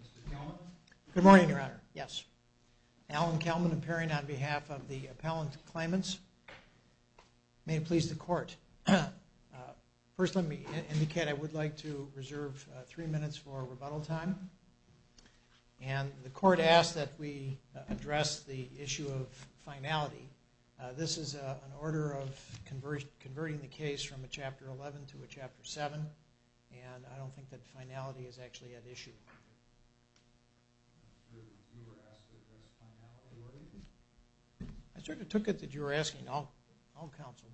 Mr. Kelman. Good morning, Your Honor. Yes. Alan Kelman appearing on behalf of the appellant claimants. May it please the court. First let me indicate I would like to reserve three This is an order of converting the case from a Chapter 11 to a Chapter 7 and I don't think that finality is actually at issue. I sort of took it that you were asking. I'll counsel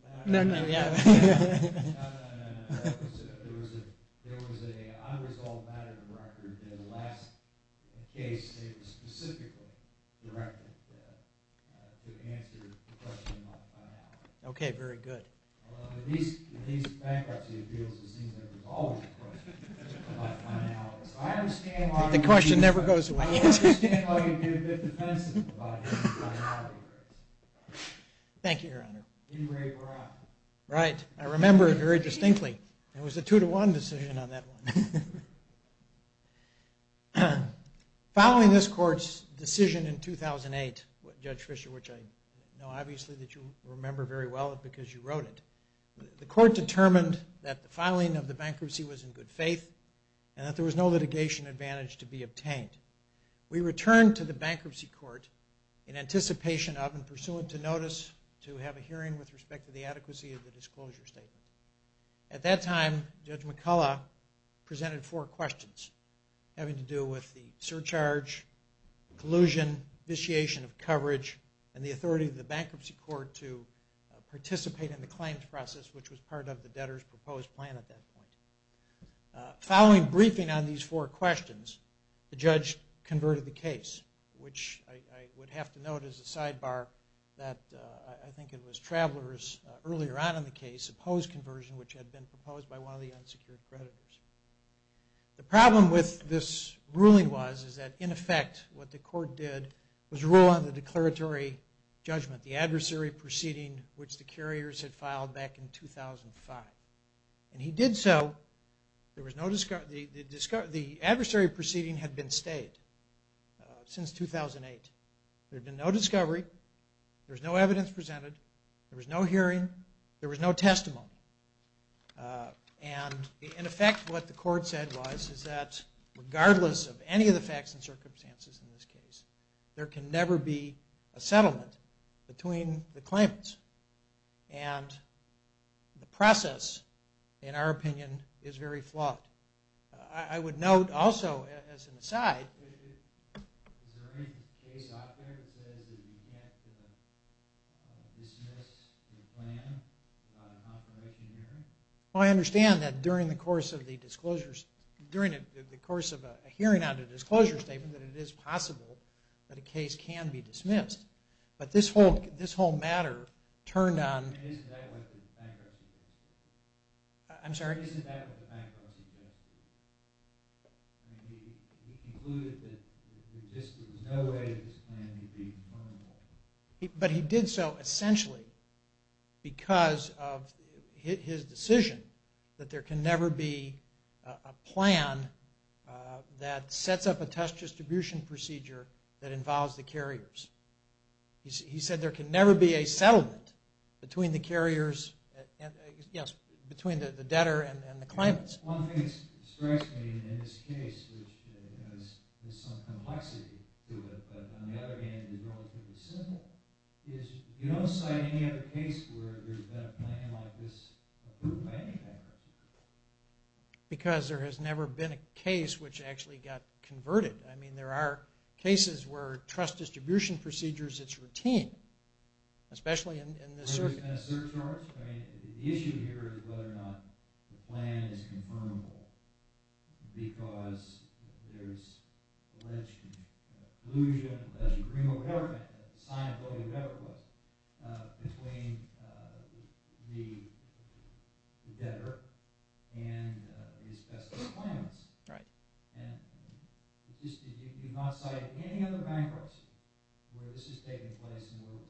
Okay, very good. The question never goes away. Thank you, Your Honor. Right. I remember it very distinctly. It was a two-to-one decision on that one. Following this court's decision in 2008, Judge Fischer, which I know obviously that you remember very well because you wrote it, the court determined that the filing of the bankruptcy was in good faith and that there was no litigation advantage to be obtained. We returned to the bankruptcy court in anticipation of and pursuant to notice to have a hearing with respect to the adequacy of the disclosure statement. At that time, Judge McCullough presented four questions having to do with the surcharge, collusion, vitiation of coverage, and the authority of the bankruptcy court to participate in the claims process, which was part of the debtor's proposed plan at that point. Following briefing on these four questions, the judge converted the case, which I would have to note as a sidebar that I think it was Travelers earlier on in the case opposed conversion, which had been proposed by one of the unsecured creditors. The problem with this ruling was that in effect what the court did was rule on the declaratory judgment, the adversary proceeding which the carriers had The adversary proceeding had been stayed since 2008. There had been no discovery, there was no evidence presented, there was no hearing, there was no testimony. And in effect what the court said was is that regardless of any of the facts and circumstances in this case, there can never be a I would note also as an aside... Is there any case out there that says that you can't dismiss the plan on a confirmation hearing? Well, I understand that during the course of the disclosures, during the course of a hearing on a disclosure statement that it is possible that a case can be dismissed. But this whole matter turned on... I'm sorry? But he did so essentially because of his decision that there can never be a plan that sets up a test distribution procedure that involves the carriers. He said there can never be a settlement between the debtor and the claimants. One thing that strikes me in this case, which has some complexity to it, but on the other hand is relatively simple, is you don't cite any other case where there's been a plan like this approved by any carrier. Because there has never been a case which actually got converted. I mean there are cases where trust distribution procedures, it's routine, especially in this circuit. The issue here is whether or not the plan is confirmable because there's alleged collusion, alleged agreement, whatever, signed by whoever it was, between the debtor and his best friend's claimants. And you did not cite any other bankruptcy where this has taken place in the world?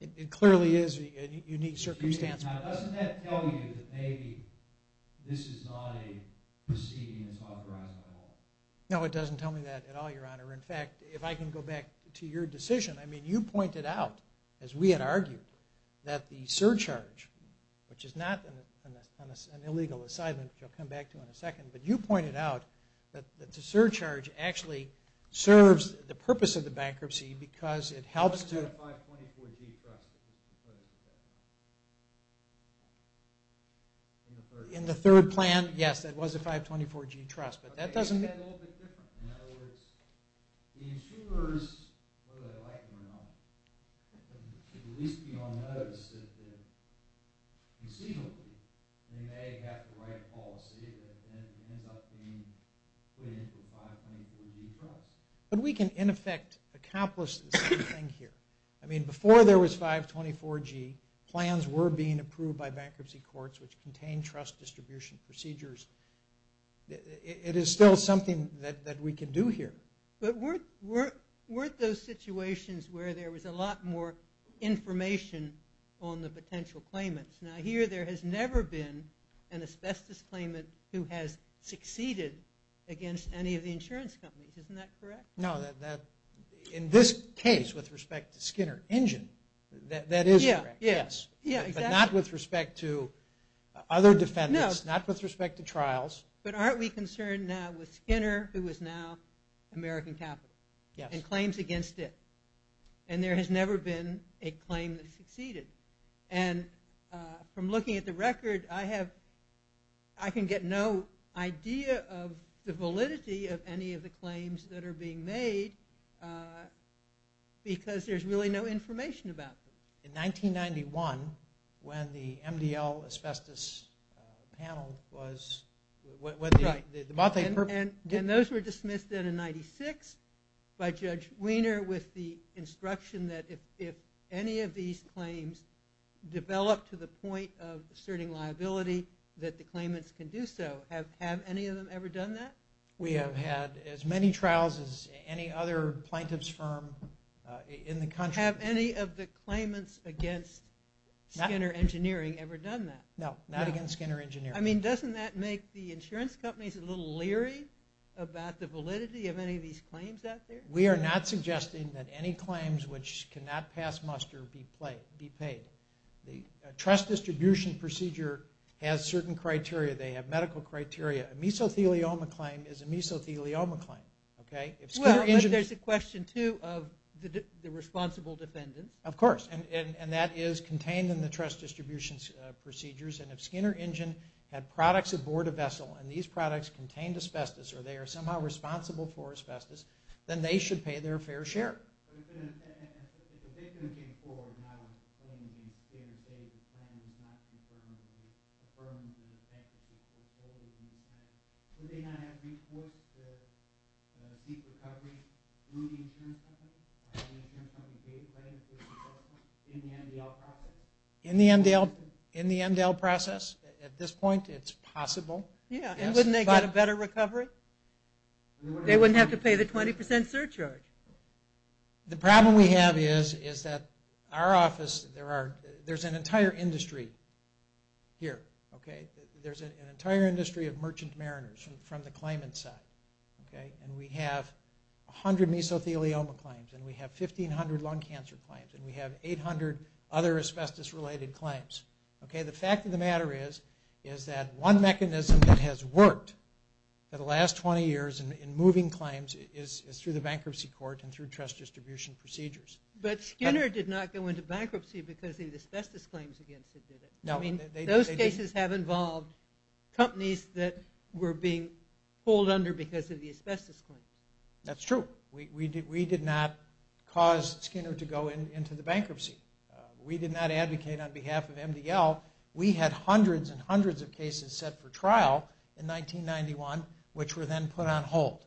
It clearly is a unique circumstance. No, it doesn't tell me that at all, Your Honor. In fact, if I can go back to your decision, I mean you pointed out, as we had argued, that the surcharge, which is not an illegal assignment, which I'll come back to in a second, but you pointed out that the surcharge actually serves the purpose of the bankruptcy because it helps to... In the third plan, yes, that was a 524G trust, but that doesn't... ends up being put into a 524G trust. But we can, in effect, accomplish the same thing here. I mean before there was 524G, plans were being approved by bankruptcy courts which contained trust distribution procedures. It is still something that we can do here. But weren't those situations where there was a lot more information on the potential claimants? Now here there has never been an asbestos claimant who has succeeded against any of the insurance companies. Isn't that correct? No, in this case, with respect to Skinner Engine, that is correct, yes. But not with respect to other defendants, not with respect to trials. But aren't we concerned now with Skinner, who is now American Capital, and claims against it? And there has never been a claim that succeeded. And from looking at the record, I have... I can get no idea of the validity of any of the claims that are being made because there is really no information about them. In 1991, when the MDL asbestos panel was... Right. And those were dismissed then in 96 by Judge Weiner with the instruction that if any of these claims develop to the point of asserting liability, that the claimants can do so. Have any of them ever done that? We have had as many trials as any other plaintiff's firm in the country. Have any of the claimants against Skinner Engineering ever done that? No, not against Skinner Engineering. I mean, doesn't that make the insurance companies a little leery about the validity of any of these claims out there? We are not suggesting that any claims which cannot pass muster be paid. A trust distribution procedure has certain criteria. They have medical criteria. A mesothelioma claim is a mesothelioma claim. Well, there's a question, too, of the responsible defendant. Of course. And that is contained in the trust distribution procedures. And if Skinner Engine had products aboard a vessel and these products contained asbestos or they are somehow responsible for asbestos, then they should pay their fair share. But if the victim came forward not only in Skinner's case, the claimant is not concerned with the firm and the fact that the case was closed in the first place, would they not have resources to seek recovery through the insurance company? Would the insurance company be able to write an insurance report in the MDL process? In the MDL process? At this point, it's possible. Yeah. And wouldn't they get a better recovery? They wouldn't have to pay the 20% surcharge. The problem we have is that our office, there's an entire industry here. There's an entire industry of merchant mariners from the claimant's side. And we have 100 mesothelioma claims and we have 1,500 lung cancer claims and we have 800 other asbestos-related claims. Okay? The fact of the matter is that one mechanism that has worked for the last 20 years in moving claims is through the bankruptcy court and through trust distribution procedures. But Skinner did not go into bankruptcy because of the asbestos claims against him, did it? No. Those cases have involved companies that were being pulled under because of the asbestos claims. That's true. We did not cause Skinner to go into the bankruptcy. We did not advocate on behalf of MDL. We had hundreds and hundreds of cases set for trial in 1991, which were then put on hold.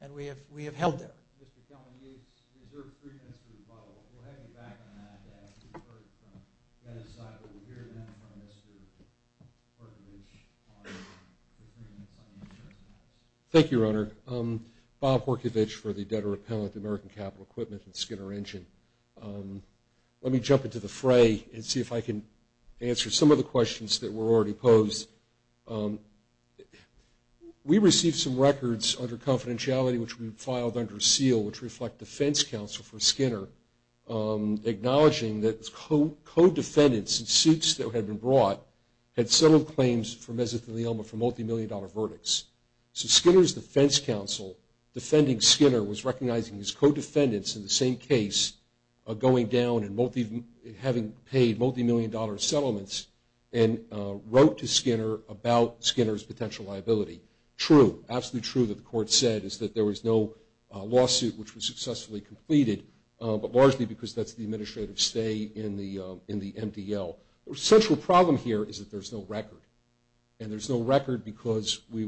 And we have held there. Mr. Kelman, you deserve three minutes to rebuttal. We'll have you back on that after you've heard from Dennis Seifert. We'll hear then from Mr. Horkovich on the three minutes on insurance policy. Thank you, Your Honor. Bob Horkovich for the Debtor Appellant, American Capital Equipment, and Skinner Engine. Let me jump into the fray and see if I can answer some of the questions that were already posed. We received some records under confidentiality, which we filed under seal, which reflect defense counsel for Skinner, acknowledging that co-defendants in suits that had been brought had settled claims for mesothelioma for multimillion-dollar verdicts. So Skinner's defense counsel, defending Skinner, was recognizing his co-defendants in the same case going down and having paid multimillion-dollar settlements and wrote to Skinner about Skinner's potential liability. True, absolutely true, that the court said, is that there was no lawsuit which was successfully completed, but largely because that's the administrative stay in the MDL. The central problem here is that there's no record. And there's no record because we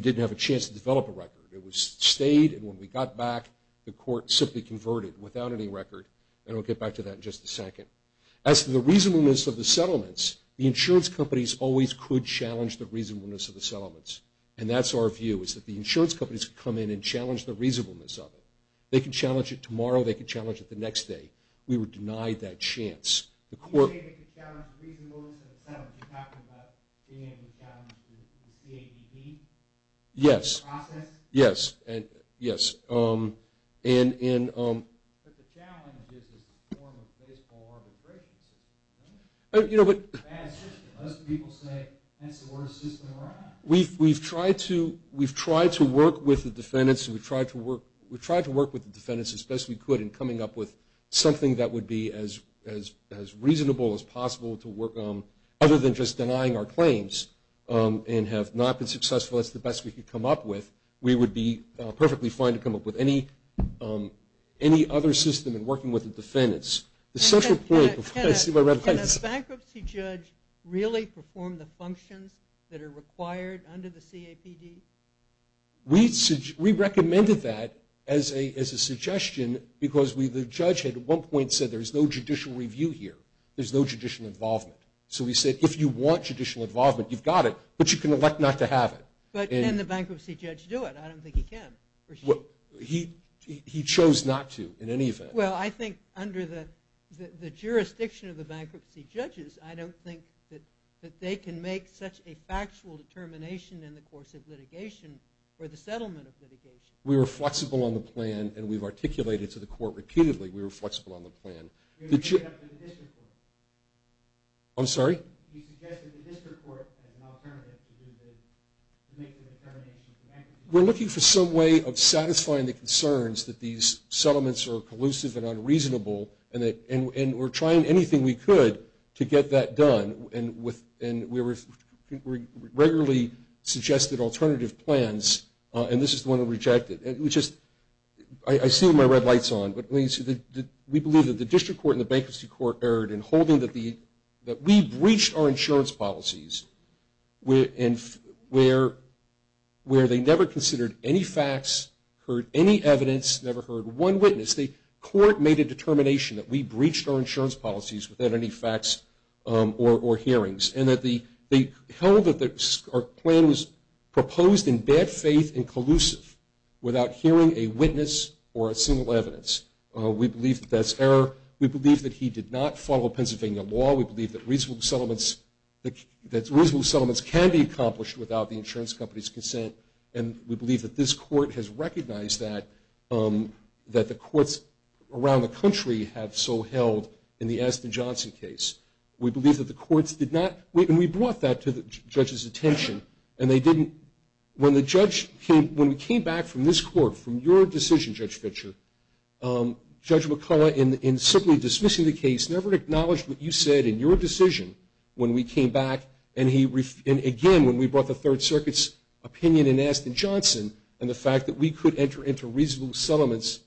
didn't have a chance to develop a record. It was stayed, and when we got back, the court simply converted without any record. And we'll get back to that in just a second. As to the reasonableness of the settlements, the insurance companies always could challenge the reasonableness of the settlements. And that's our view, is that the insurance companies could come in and challenge the reasonableness of it. They could challenge it tomorrow, they could challenge it the next day. We were denied that chance. Can you say they could challenge the reasonableness of the settlements? You're talking about being able to challenge the CADB process? Yes, yes. But the challenge is this form of baseball arbitration system. It's a bad system. Most people say that's the worst system around. We've tried to work with the defendants as best we could in coming up with something that would be as reasonable as possible to work on, other than just denying our claims, and have not been successful. That's the best we could come up with. We would be perfectly fine to come up with any other system in working with the defendants. Can a bankruptcy judge really perform the functions that are required under the CAPD? We recommended that as a suggestion because the judge at one point said, there's no judicial review here. There's no judicial involvement. So we said, if you want judicial involvement, you've got it, but you can elect not to have it. But can the bankruptcy judge do it? I don't think he can. He chose not to, in any event. Well, I think under the jurisdiction of the bankruptcy judges, I don't think that they can make such a factual determination in the course of litigation for the settlement of litigation. We were flexible on the plan, and we've articulated to the court repeatedly. We were flexible on the plan. You suggested the district court as an alternative to make the determination. We're looking for some way of satisfying the concerns that these settlements are collusive and unreasonable, and we're trying anything we could to get that done. And we regularly suggested alternative plans, and this is the one that rejected. I see my red lights on, but we believe that the district court and the bankruptcy court erred in holding that we breached our insurance policies where they never considered any facts, heard any evidence, never heard one witness. The court made a determination that we breached our insurance policies without any facts or hearings, and that they held that our plan was proposed in bad faith and collusive without hearing a witness or a single evidence. We believe that that's error. We believe that he did not follow Pennsylvania law. We believe that reasonable settlements can be accomplished without the insurance company's consent, and we believe that this court has recognized that the courts around the country have so held in the Aston Johnson case. We believe that the courts did not, and we brought that to the judge's attention, and they didn't, when the judge, when we came back from this court, from your decision, Judge Fitcher, Judge McCullough, in simply dismissing the case, never acknowledged what you said in your decision when we came back, and again, when we brought the Third Circuit's opinion in Aston Johnson and the fact that we could enter into reasonable settlements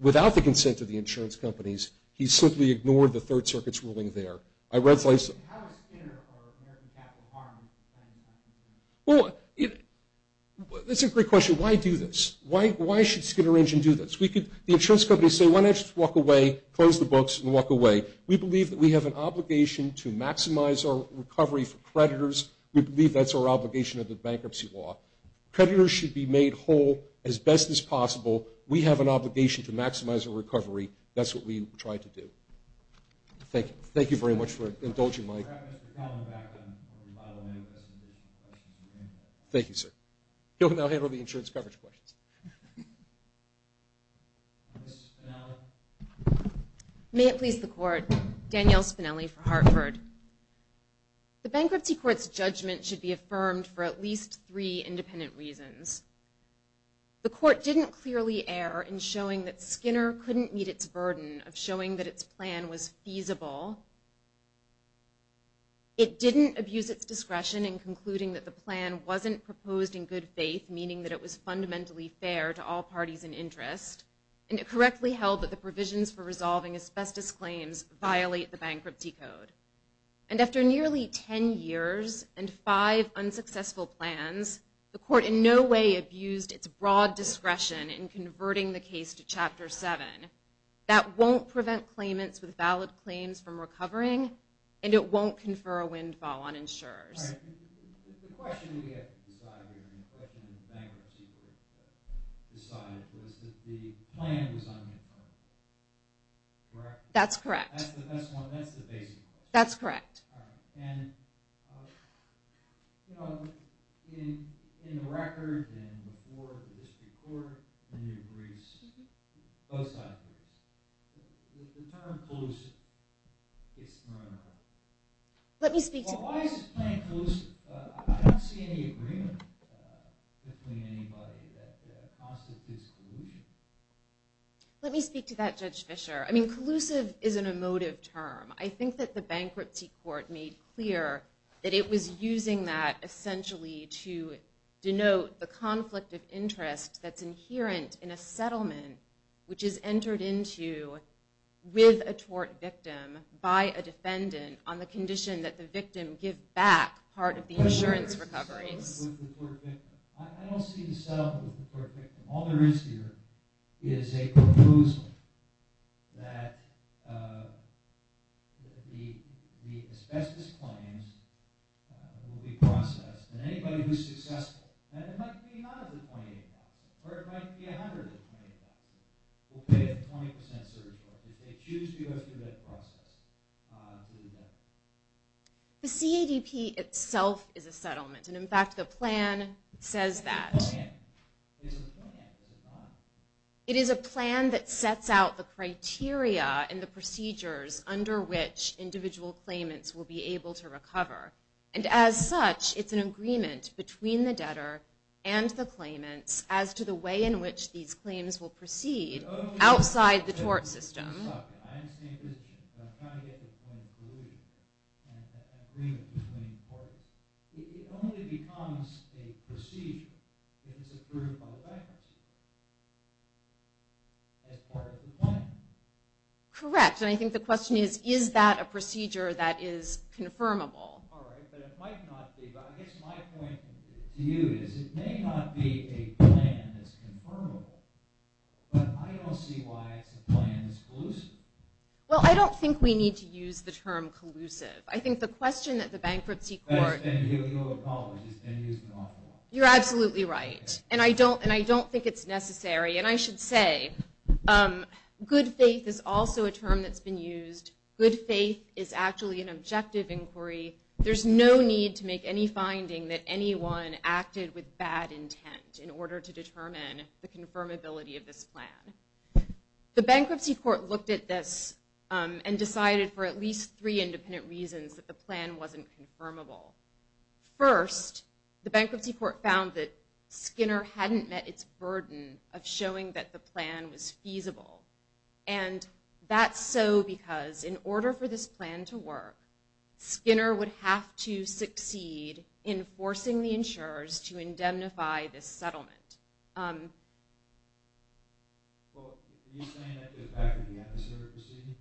without the consent of the insurance companies, he simply ignored the Third Circuit's ruling there. I read something. How does Skinner or American Capital Harmony stand on this? Well, that's a great question. Why do this? Why should Skinner Engine do this? The insurance companies say, why don't you just walk away, close the books, and walk away. We believe that we have an obligation to maximize our recovery for creditors. We believe that's our obligation under the bankruptcy law. Creditors should be made whole as best as possible. We have an obligation to maximize our recovery. That's what we try to do. Thank you. Thank you very much for indulging, Mike. Thank you, sir. You can now handle the insurance coverage questions. Ms. Spinelli. May it please the Court. Danielle Spinelli for Hartford. The bankruptcy court's judgment should be affirmed for at least three independent reasons. The court didn't clearly err in showing that Skinner couldn't meet its burden of showing that its plan was feasible. It didn't abuse its discretion in concluding that the plan wasn't proposed in good faith, meaning that it was fundamentally fair to all parties in interest. And it correctly held that the provisions for resolving asbestos claims violate the bankruptcy code. And after nearly ten years and five unsuccessful plans, the court in no way abused its broad discretion in converting the case to Chapter 7. That won't prevent claimants with valid claims from recovering, and it won't confer a windfall on insurers. All right. The question we had to decide here, and the question the bankruptcy court had to decide, was that the plan was unconfirmed. Correct? That's correct. That's the best one. That's the basic question. That's correct. All right. And, you know, in the record, and before the district court, and your briefs, both side briefs, the term pollution gets thrown around. Let me speak to that. Why is the plan collusive? I don't see any agreement between anybody that constitutes pollution. Let me speak to that, Judge Fischer. I mean, collusive is an emotive term. I think that the bankruptcy court made clear that it was using that, essentially, to denote the conflict of interest that's inherent in a settlement, which is entered into with a tort victim by a defendant on the condition that the victim give back part of the insurance recoveries. I don't see the settlement with the tort victim. All there is here is a proposal that the asbestos claims will be processed, and anybody who's successful, and it might be none of the 28 doctors, or it might be 100 of the 28 doctors, will pay a 20% surcharge. They choose to go through that process. The CADP itself is a settlement, and, in fact, the plan says that. It is a plan that sets out the criteria and the procedures under which individual claimants will be able to recover, and as such, it's an agreement between the debtor and the claimants as to the way in which these claims will proceed outside the tort system. I understand your position, but I'm trying to get to the point of collusion and agreement between the parties. It only becomes a procedure if it's approved by the bankruptcy court as part of the plan. Correct, and I think the question is, is that a procedure that is confirmable? All right, but it might not be. Well, I guess my point to you is it may not be a plan that's confirmable, but I don't see why it's a plan that's collusive. Well, I don't think we need to use the term collusive. I think the question that the bankruptcy court— That's been here with you all the problems. It's been used an awful lot. You're absolutely right, and I don't think it's necessary, and I should say good faith is also a term that's been used. Good faith is actually an objective inquiry. There's no need to make any finding that anyone acted with bad intent in order to determine the confirmability of this plan. The bankruptcy court looked at this and decided for at least three independent reasons that the plan wasn't confirmable. First, the bankruptcy court found that Skinner hadn't met its burden of showing that the plan was feasible, and that's so because in order for this plan to work, Skinner would have to succeed in forcing the insurers to indemnify this settlement. Well, are you saying that this happened in the adversary proceeding?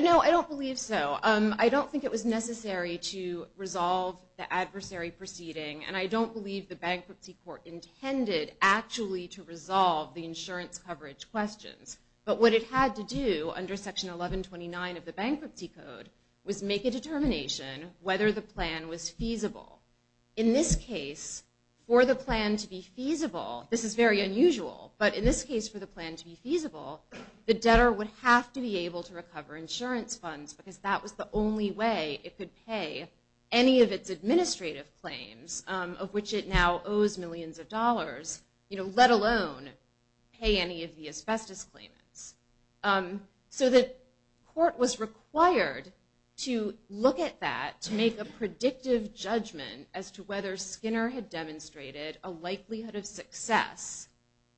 No, I don't believe so. I don't think it was necessary to resolve the adversary proceeding, and I don't believe the bankruptcy court intended actually to resolve the insurance coverage questions, but what it had to do under Section 1129 of the bankruptcy code was make a determination whether the plan was feasible. In this case, for the plan to be feasible, this is very unusual, but in this case for the plan to be feasible, the debtor would have to be able to recover insurance funds because that was the only way it could pay any of its administrative claims of which it now owes millions of dollars, let alone pay any of the asbestos claimants. So the court was required to look at that to make a predictive judgment as to whether Skinner had demonstrated a likelihood of success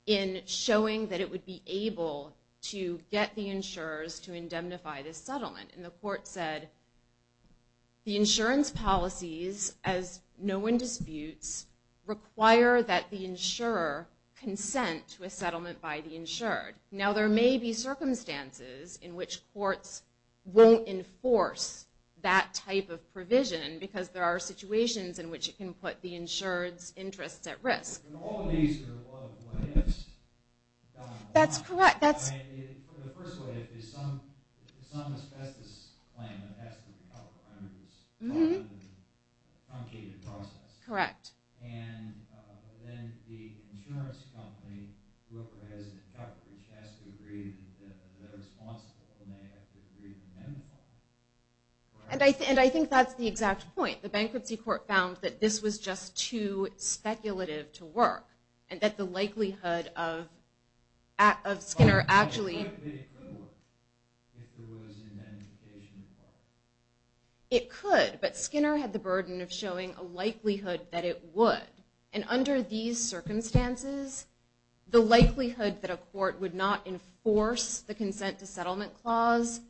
in showing that it would be able to get the insurers to indemnify this settlement, and the court said the insurance policies, as no one disputes, require that the insurer consent to a settlement by the insured. Now there may be circumstances in which courts won't enforce that type of provision because there are situations in which it can put the insured's interests at risk. In all of these, there are a lot of what ifs down the line. The first what if is some asbestos claimant has to recover under this truncated process, and then the insurance company who has recovered has to agree that they're responsible and they have to agree to indemnify. And I think that's the exact point. The bankruptcy court found that this was just too speculative to work and that the likelihood of Skinner actually... It could, but Skinner had the burden of showing a likelihood that it would. And under these circumstances, the likelihood that a court would not enforce the consent to settlement clause,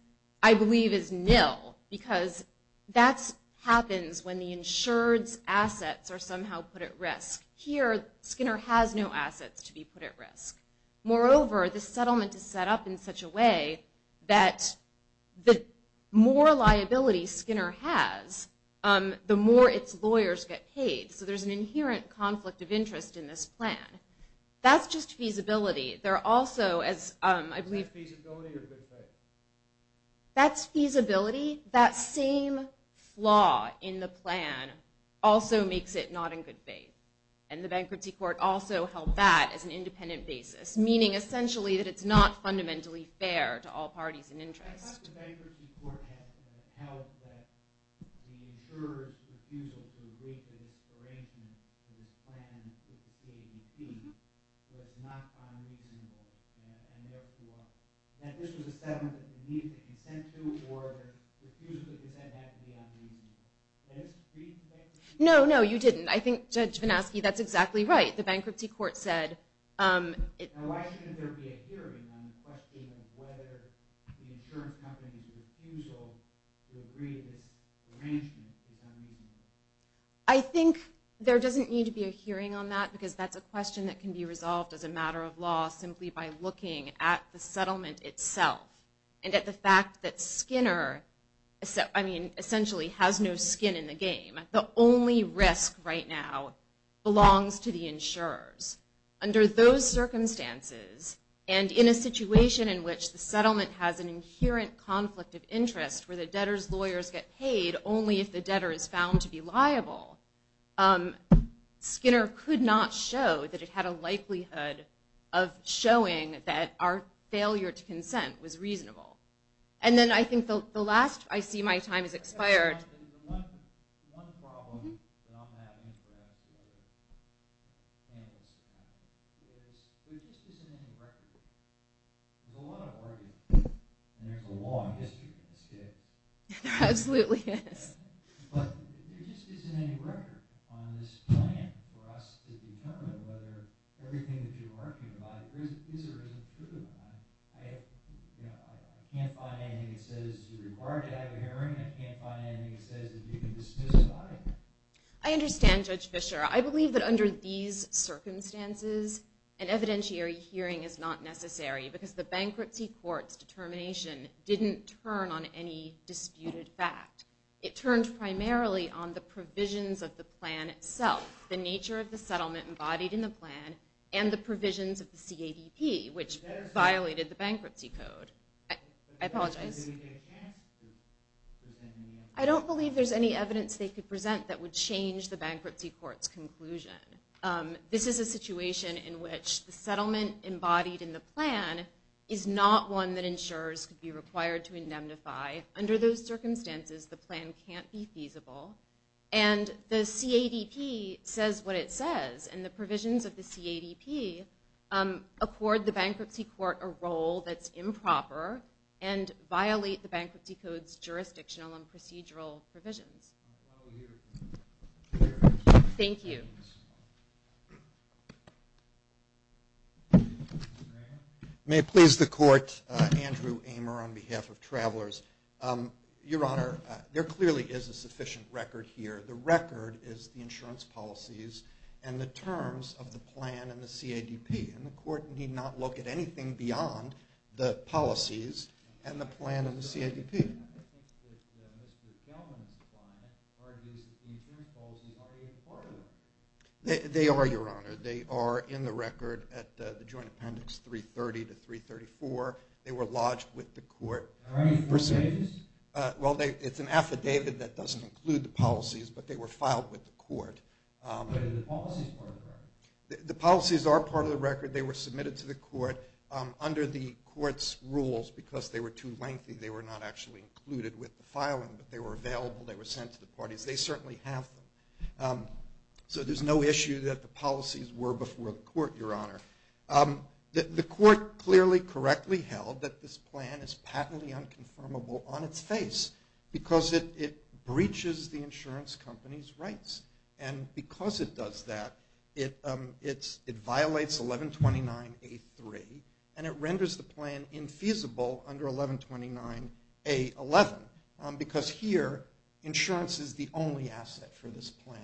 I believe is nil, because that happens when the insured's assets are somehow put at risk. Here, Skinner has no assets to be put at risk. Moreover, the settlement is set up in such a way that the more liability Skinner has, the more its lawyers get paid. So there's an inherent conflict of interest in this plan. That's just feasibility. Is that feasibility or good faith? That's feasibility. That same flaw in the plan also makes it not in good faith. And the bankruptcy court also held that as an independent basis, meaning essentially that it's not fundamentally fair to all parties in interest. I thought the bankruptcy court had held that the insurer's refusal to agree to this arrangement, to this plan, to this case, was not unreasonable, and therefore that this was a settlement that they needed to consent to or their refusal to consent had to be unreasonable. Did I misread that? No, no, you didn't. I think Judge Vanaski, that's exactly right. The bankruptcy court said... Why shouldn't there be a hearing on the question of whether the insurance company's refusal to agree to this arrangement is unreasonable? I think there doesn't need to be a hearing on that because that's a question that can be resolved as a matter of law simply by looking at the settlement itself and at the fact that Skinner essentially has no skin in the game. The only risk right now belongs to the insurers. Under those circumstances and in a situation in which the settlement has an inherent conflict of interest where the debtor's lawyers get paid only if the debtor is found to be liable, Skinner could not show that it had a likelihood of showing that our failure to consent was reasonable. And then I think the last... I see my time has expired. One problem that I'm having is perhaps the other way around. There just isn't any record. There's a lot of argument, and there's a long history of this case. There absolutely is. But there just isn't any record on this plan for us to determine whether everything that you're arguing about is or isn't true. I can't find anything that says you're required to have a hearing. I can't find anything that says that you can dismiss the argument. I understand, Judge Fischer. I believe that under these circumstances, an evidentiary hearing is not necessary because the bankruptcy court's determination didn't turn on any disputed fact. It turned primarily on the provisions of the plan itself, the nature of the settlement embodied in the plan, and the provisions of the CADP, which violated the bankruptcy code. I apologize. I don't believe there's any evidence they could present that would change the bankruptcy court's conclusion. This is a situation in which the settlement embodied in the plan is not one that insurers could be required to indemnify. Under those circumstances, the plan can't be feasible. And the CADP says what it says. And the provisions of the CADP accord the bankruptcy court a role that's improper and violate the bankruptcy code's jurisdictional and procedural provisions. Thank you. May it please the Court, Andrew Amer on behalf of Travelers. Your Honor, there clearly is a sufficient record here. The record is the insurance policies and the terms of the plan and the CADP. And the Court need not look at anything beyond the policies and the plan and the CADP. I think that Mr. Kellman's client argues that the insurance policies are a part of it. They are, Your Honor. They are in the record at the Joint Appendix 330 to 334. They were lodged with the Court. Are they affidavits? Well, it's an affidavit that doesn't include the policies, but they were filed with the Court. But are the policies part of the record? The policies are part of the record. They were submitted to the Court under the Court's rules because they were too lengthy. They were not actually included with the filing, but they were available. They were sent to the parties. They certainly have them. So there's no issue that the policies were before the Court, Your Honor. The Court clearly correctly held that this plan is patently unconfirmable on its face because it breaches the insurance company's rights. And because it does that, it violates 1129A3, and it renders the plan infeasible under 1129A11 because here insurance is the only asset for this plan.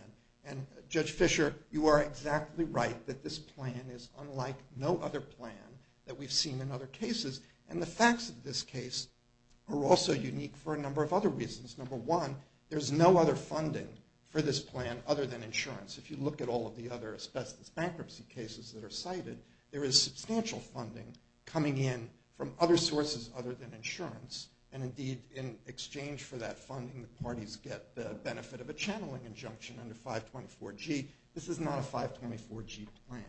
And Judge Fischer, you are exactly right that this plan is unlike no other plan that we've seen in other cases. And the facts of this case are also unique for a number of other reasons. Number one, there's no other funding for this plan other than insurance. If you look at all of the other asbestos bankruptcy cases that are cited, there is substantial funding coming in from other sources other than insurance. And indeed, in exchange for that funding, the parties get the benefit of a channeling injunction under 524G. This is not a 524G plan.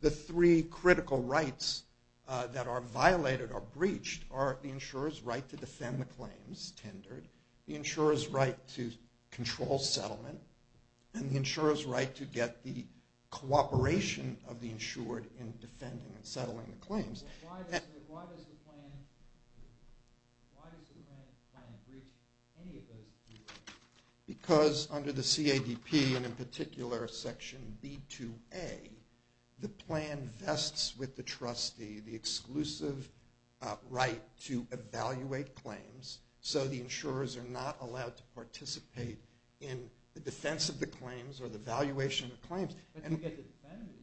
The three critical rights that are violated or breached are the insurer's right to defend the claims, tendered, the insurer's right to control settlement, and the insurer's right to get the cooperation of the insured in defending and settling the claims. Why does the plan breach any of those three rights? Because under the CADP, and in particular Section B2A, the plan vests with the trustee the exclusive right to evaluate claims so the insurers are not allowed to participate in the defense of the claims or the valuation of the claims. But you get to defend the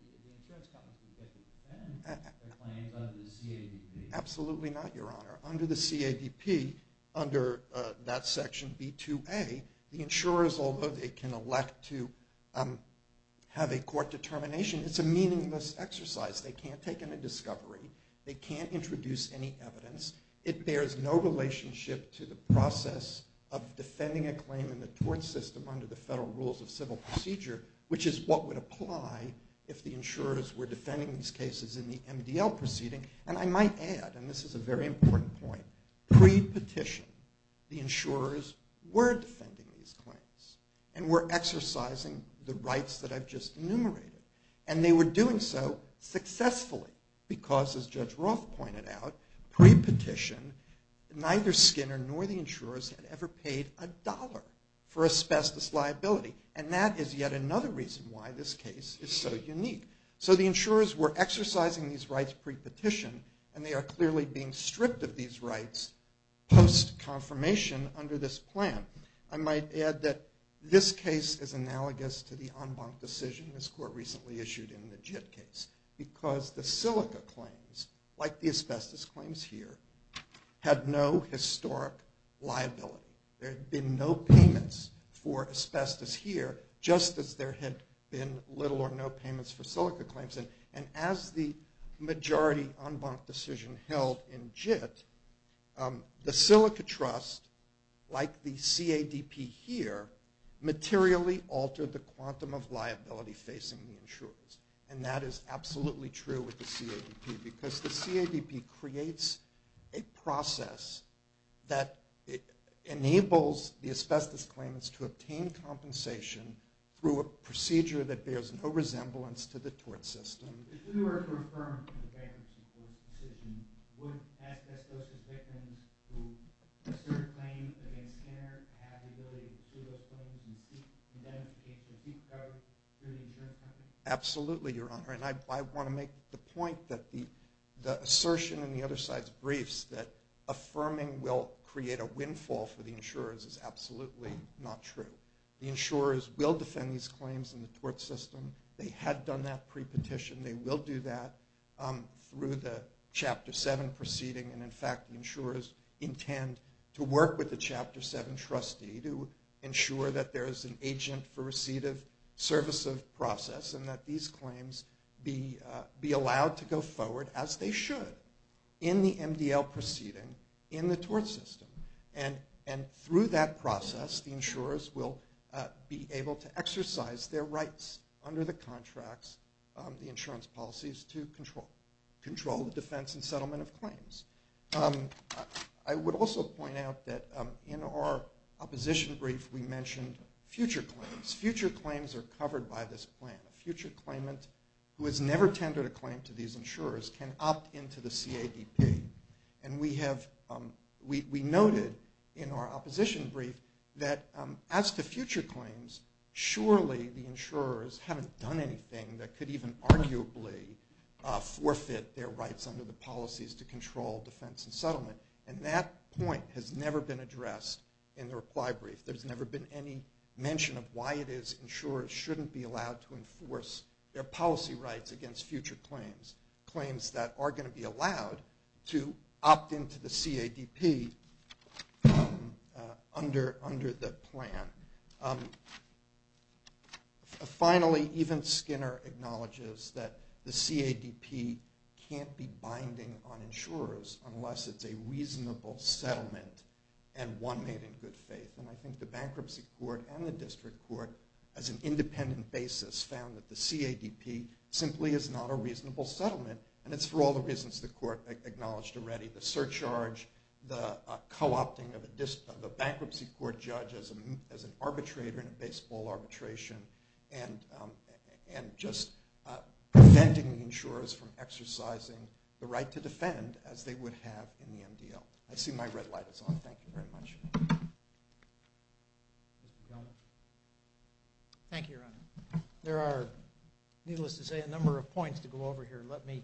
claims under the CADP. Absolutely not, Your Honor. Under the CADP, under that Section B2A, the insurers, although they can elect to have a court determination, it's a meaningless exercise. They can't take in a discovery. They can't introduce any evidence. It bears no relationship to the process of defending a claim in the tort system under the federal rules of civil procedure, which is what would apply if the insurers were defending these cases in the MDL proceeding. And I might add, and this is a very important point, pre-petition the insurers were defending these claims and were exercising the rights that I've just enumerated. And they were doing so successfully because, as Judge Roth pointed out, pre-petition neither Skinner nor the insurers had ever paid a dollar for asbestos liability. And that is yet another reason why this case is so unique. So the insurers were exercising these rights pre-petition, and they are clearly being stripped of these rights post-confirmation under this plan. I might add that this case is analogous to the en banc decision this court recently issued in the JIT case because the silica claims, like the asbestos claims here, had no historic liability. There had been no payments for asbestos here, just as there had been little or no payments for silica claims. And as the majority en banc decision held in JIT, the silica trust, like the CADP here, materially altered the quantum of liability facing the insurers. And that is absolutely true with the CADP because the CADP creates a process that enables the asbestos claimants to obtain compensation through a procedure that bears no resemblance to the tort system. If you were to affirm the bankruptcy court's decision, would asbestos victims who assert a claim against Skinner have the ability to sue those claims and demonstrate their deep cover through the insurance company? Absolutely, Your Honor. And I want to make the point that the assertion in the other side's briefs that affirming will create a windfall for the insurers is absolutely not true. The insurers will defend these claims in the tort system. They had done that pre-petition. They will do that through the Chapter 7 proceeding. And, in fact, the insurers intend to work with the Chapter 7 trustee to ensure that there is an agent for receipt of service of process and that these claims be allowed to go forward as they should in the MDL proceeding in the tort system. And through that process, the insurers will be able to exercise their rights under the contracts, the insurance policies, to control the defense and settlement of claims. I would also point out that in our opposition brief, we mentioned future claims. Future claims are covered by this plan. A future claimant who has never tendered a claim to these insurers can opt into the CADP. And we noted in our opposition brief that as to future claims, surely the insurers haven't done anything that could even arguably forfeit their rights under the policies to control defense and settlement. And that point has never been addressed in the reply brief. There's never been any mention of why it is insurers shouldn't be allowed to enforce their policy rights against future claims, claims that are going to be allowed to opt into the CADP under the plan. Finally, even Skinner acknowledges that the CADP can't be binding on insurers unless it's a reasonable settlement and one made in good faith. And I think the bankruptcy court and the district court, as an independent basis, found that the CADP simply is not a reasonable settlement. And it's for all the reasons the court acknowledged already, the surcharge, the co-opting of a bankruptcy court judge as an arbitrator in a baseball arbitration, and just preventing the insurers from exercising the right to defend as they would have in the MDL. I see my red light is on. Thank you very much. Thank you, Your Honor. There are, needless to say, a number of points to go over here. Let me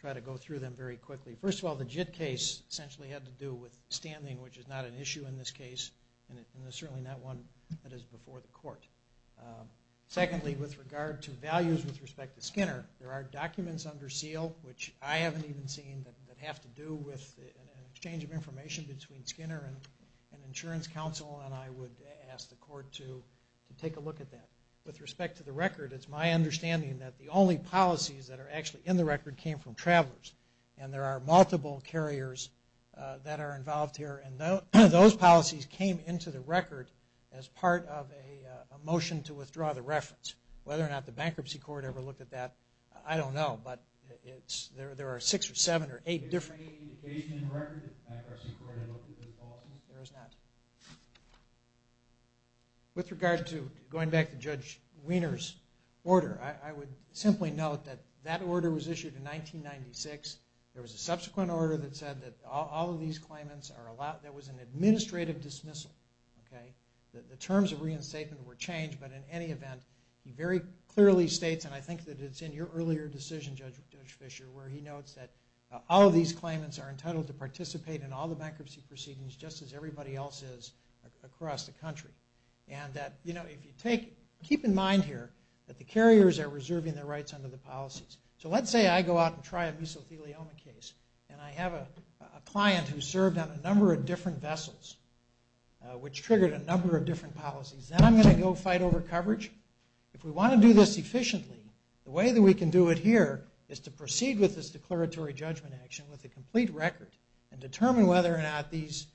try to go through them very quickly. First of all, the JIT case essentially had to do with standing, which is not an issue in this case, and it's certainly not one that is before the court. Secondly, with regard to values with respect to Skinner, there are documents under seal, which I haven't even seen, that have to do with an exchange of information between Skinner and an insurance counsel, and I would ask the court to take a look at that. With respect to the record, it's my understanding that the only policies that are actually in the record came from travelers, and there are multiple carriers that are involved here, and those policies came into the record as part of a motion to withdraw the reference. Whether or not the bankruptcy court ever looked at that, I don't know, but there are six or seven or eight different... Is there any indication in the record that the bankruptcy court ever looked at those policies? There is not. With regard to going back to Judge Wiener's order, I would simply note that that order was issued in 1996. There was a subsequent order that said that all of these claimants are allowed. There was an administrative dismissal. The terms of reinstatement were changed, but in any event, he very clearly states, and I think that it's in your earlier decision, Judge Fischer, where he notes that all of these claimants are entitled to participate in all the bankruptcy proceedings just as everybody else is across the country, and that if you take... Keep in mind here that the carriers are reserving their rights under the policies. So let's say I go out and try a mesothelioma case, and I have a client who served on a number of different vessels, which triggered a number of different policies. Then I'm going to go fight over coverage. If we want to do this efficiently, the way that we can do it here is to proceed with this declaratory judgment action with a complete record and determine whether or not these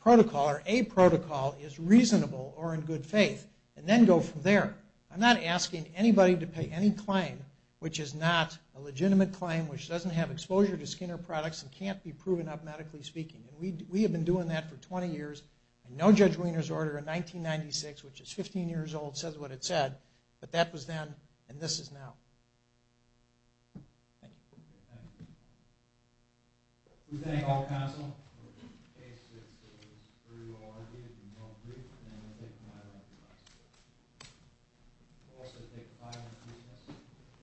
protocol or a protocol is reasonable or in good faith, and then go from there. I'm not asking anybody to pay any claim which is not a legitimate claim, which doesn't have exposure to skin or products and can't be proven up, medically speaking. We have been doing that for 20 years. No Judge Wiener's order in 1996, which is 15 years old, says what it said. But that was then, and this is now. Thank you. Thank you. We thank all counsel. In case it was a trivial argument and you don't agree, then we'll take a five-minute recess. We'll also take a five-minute recess.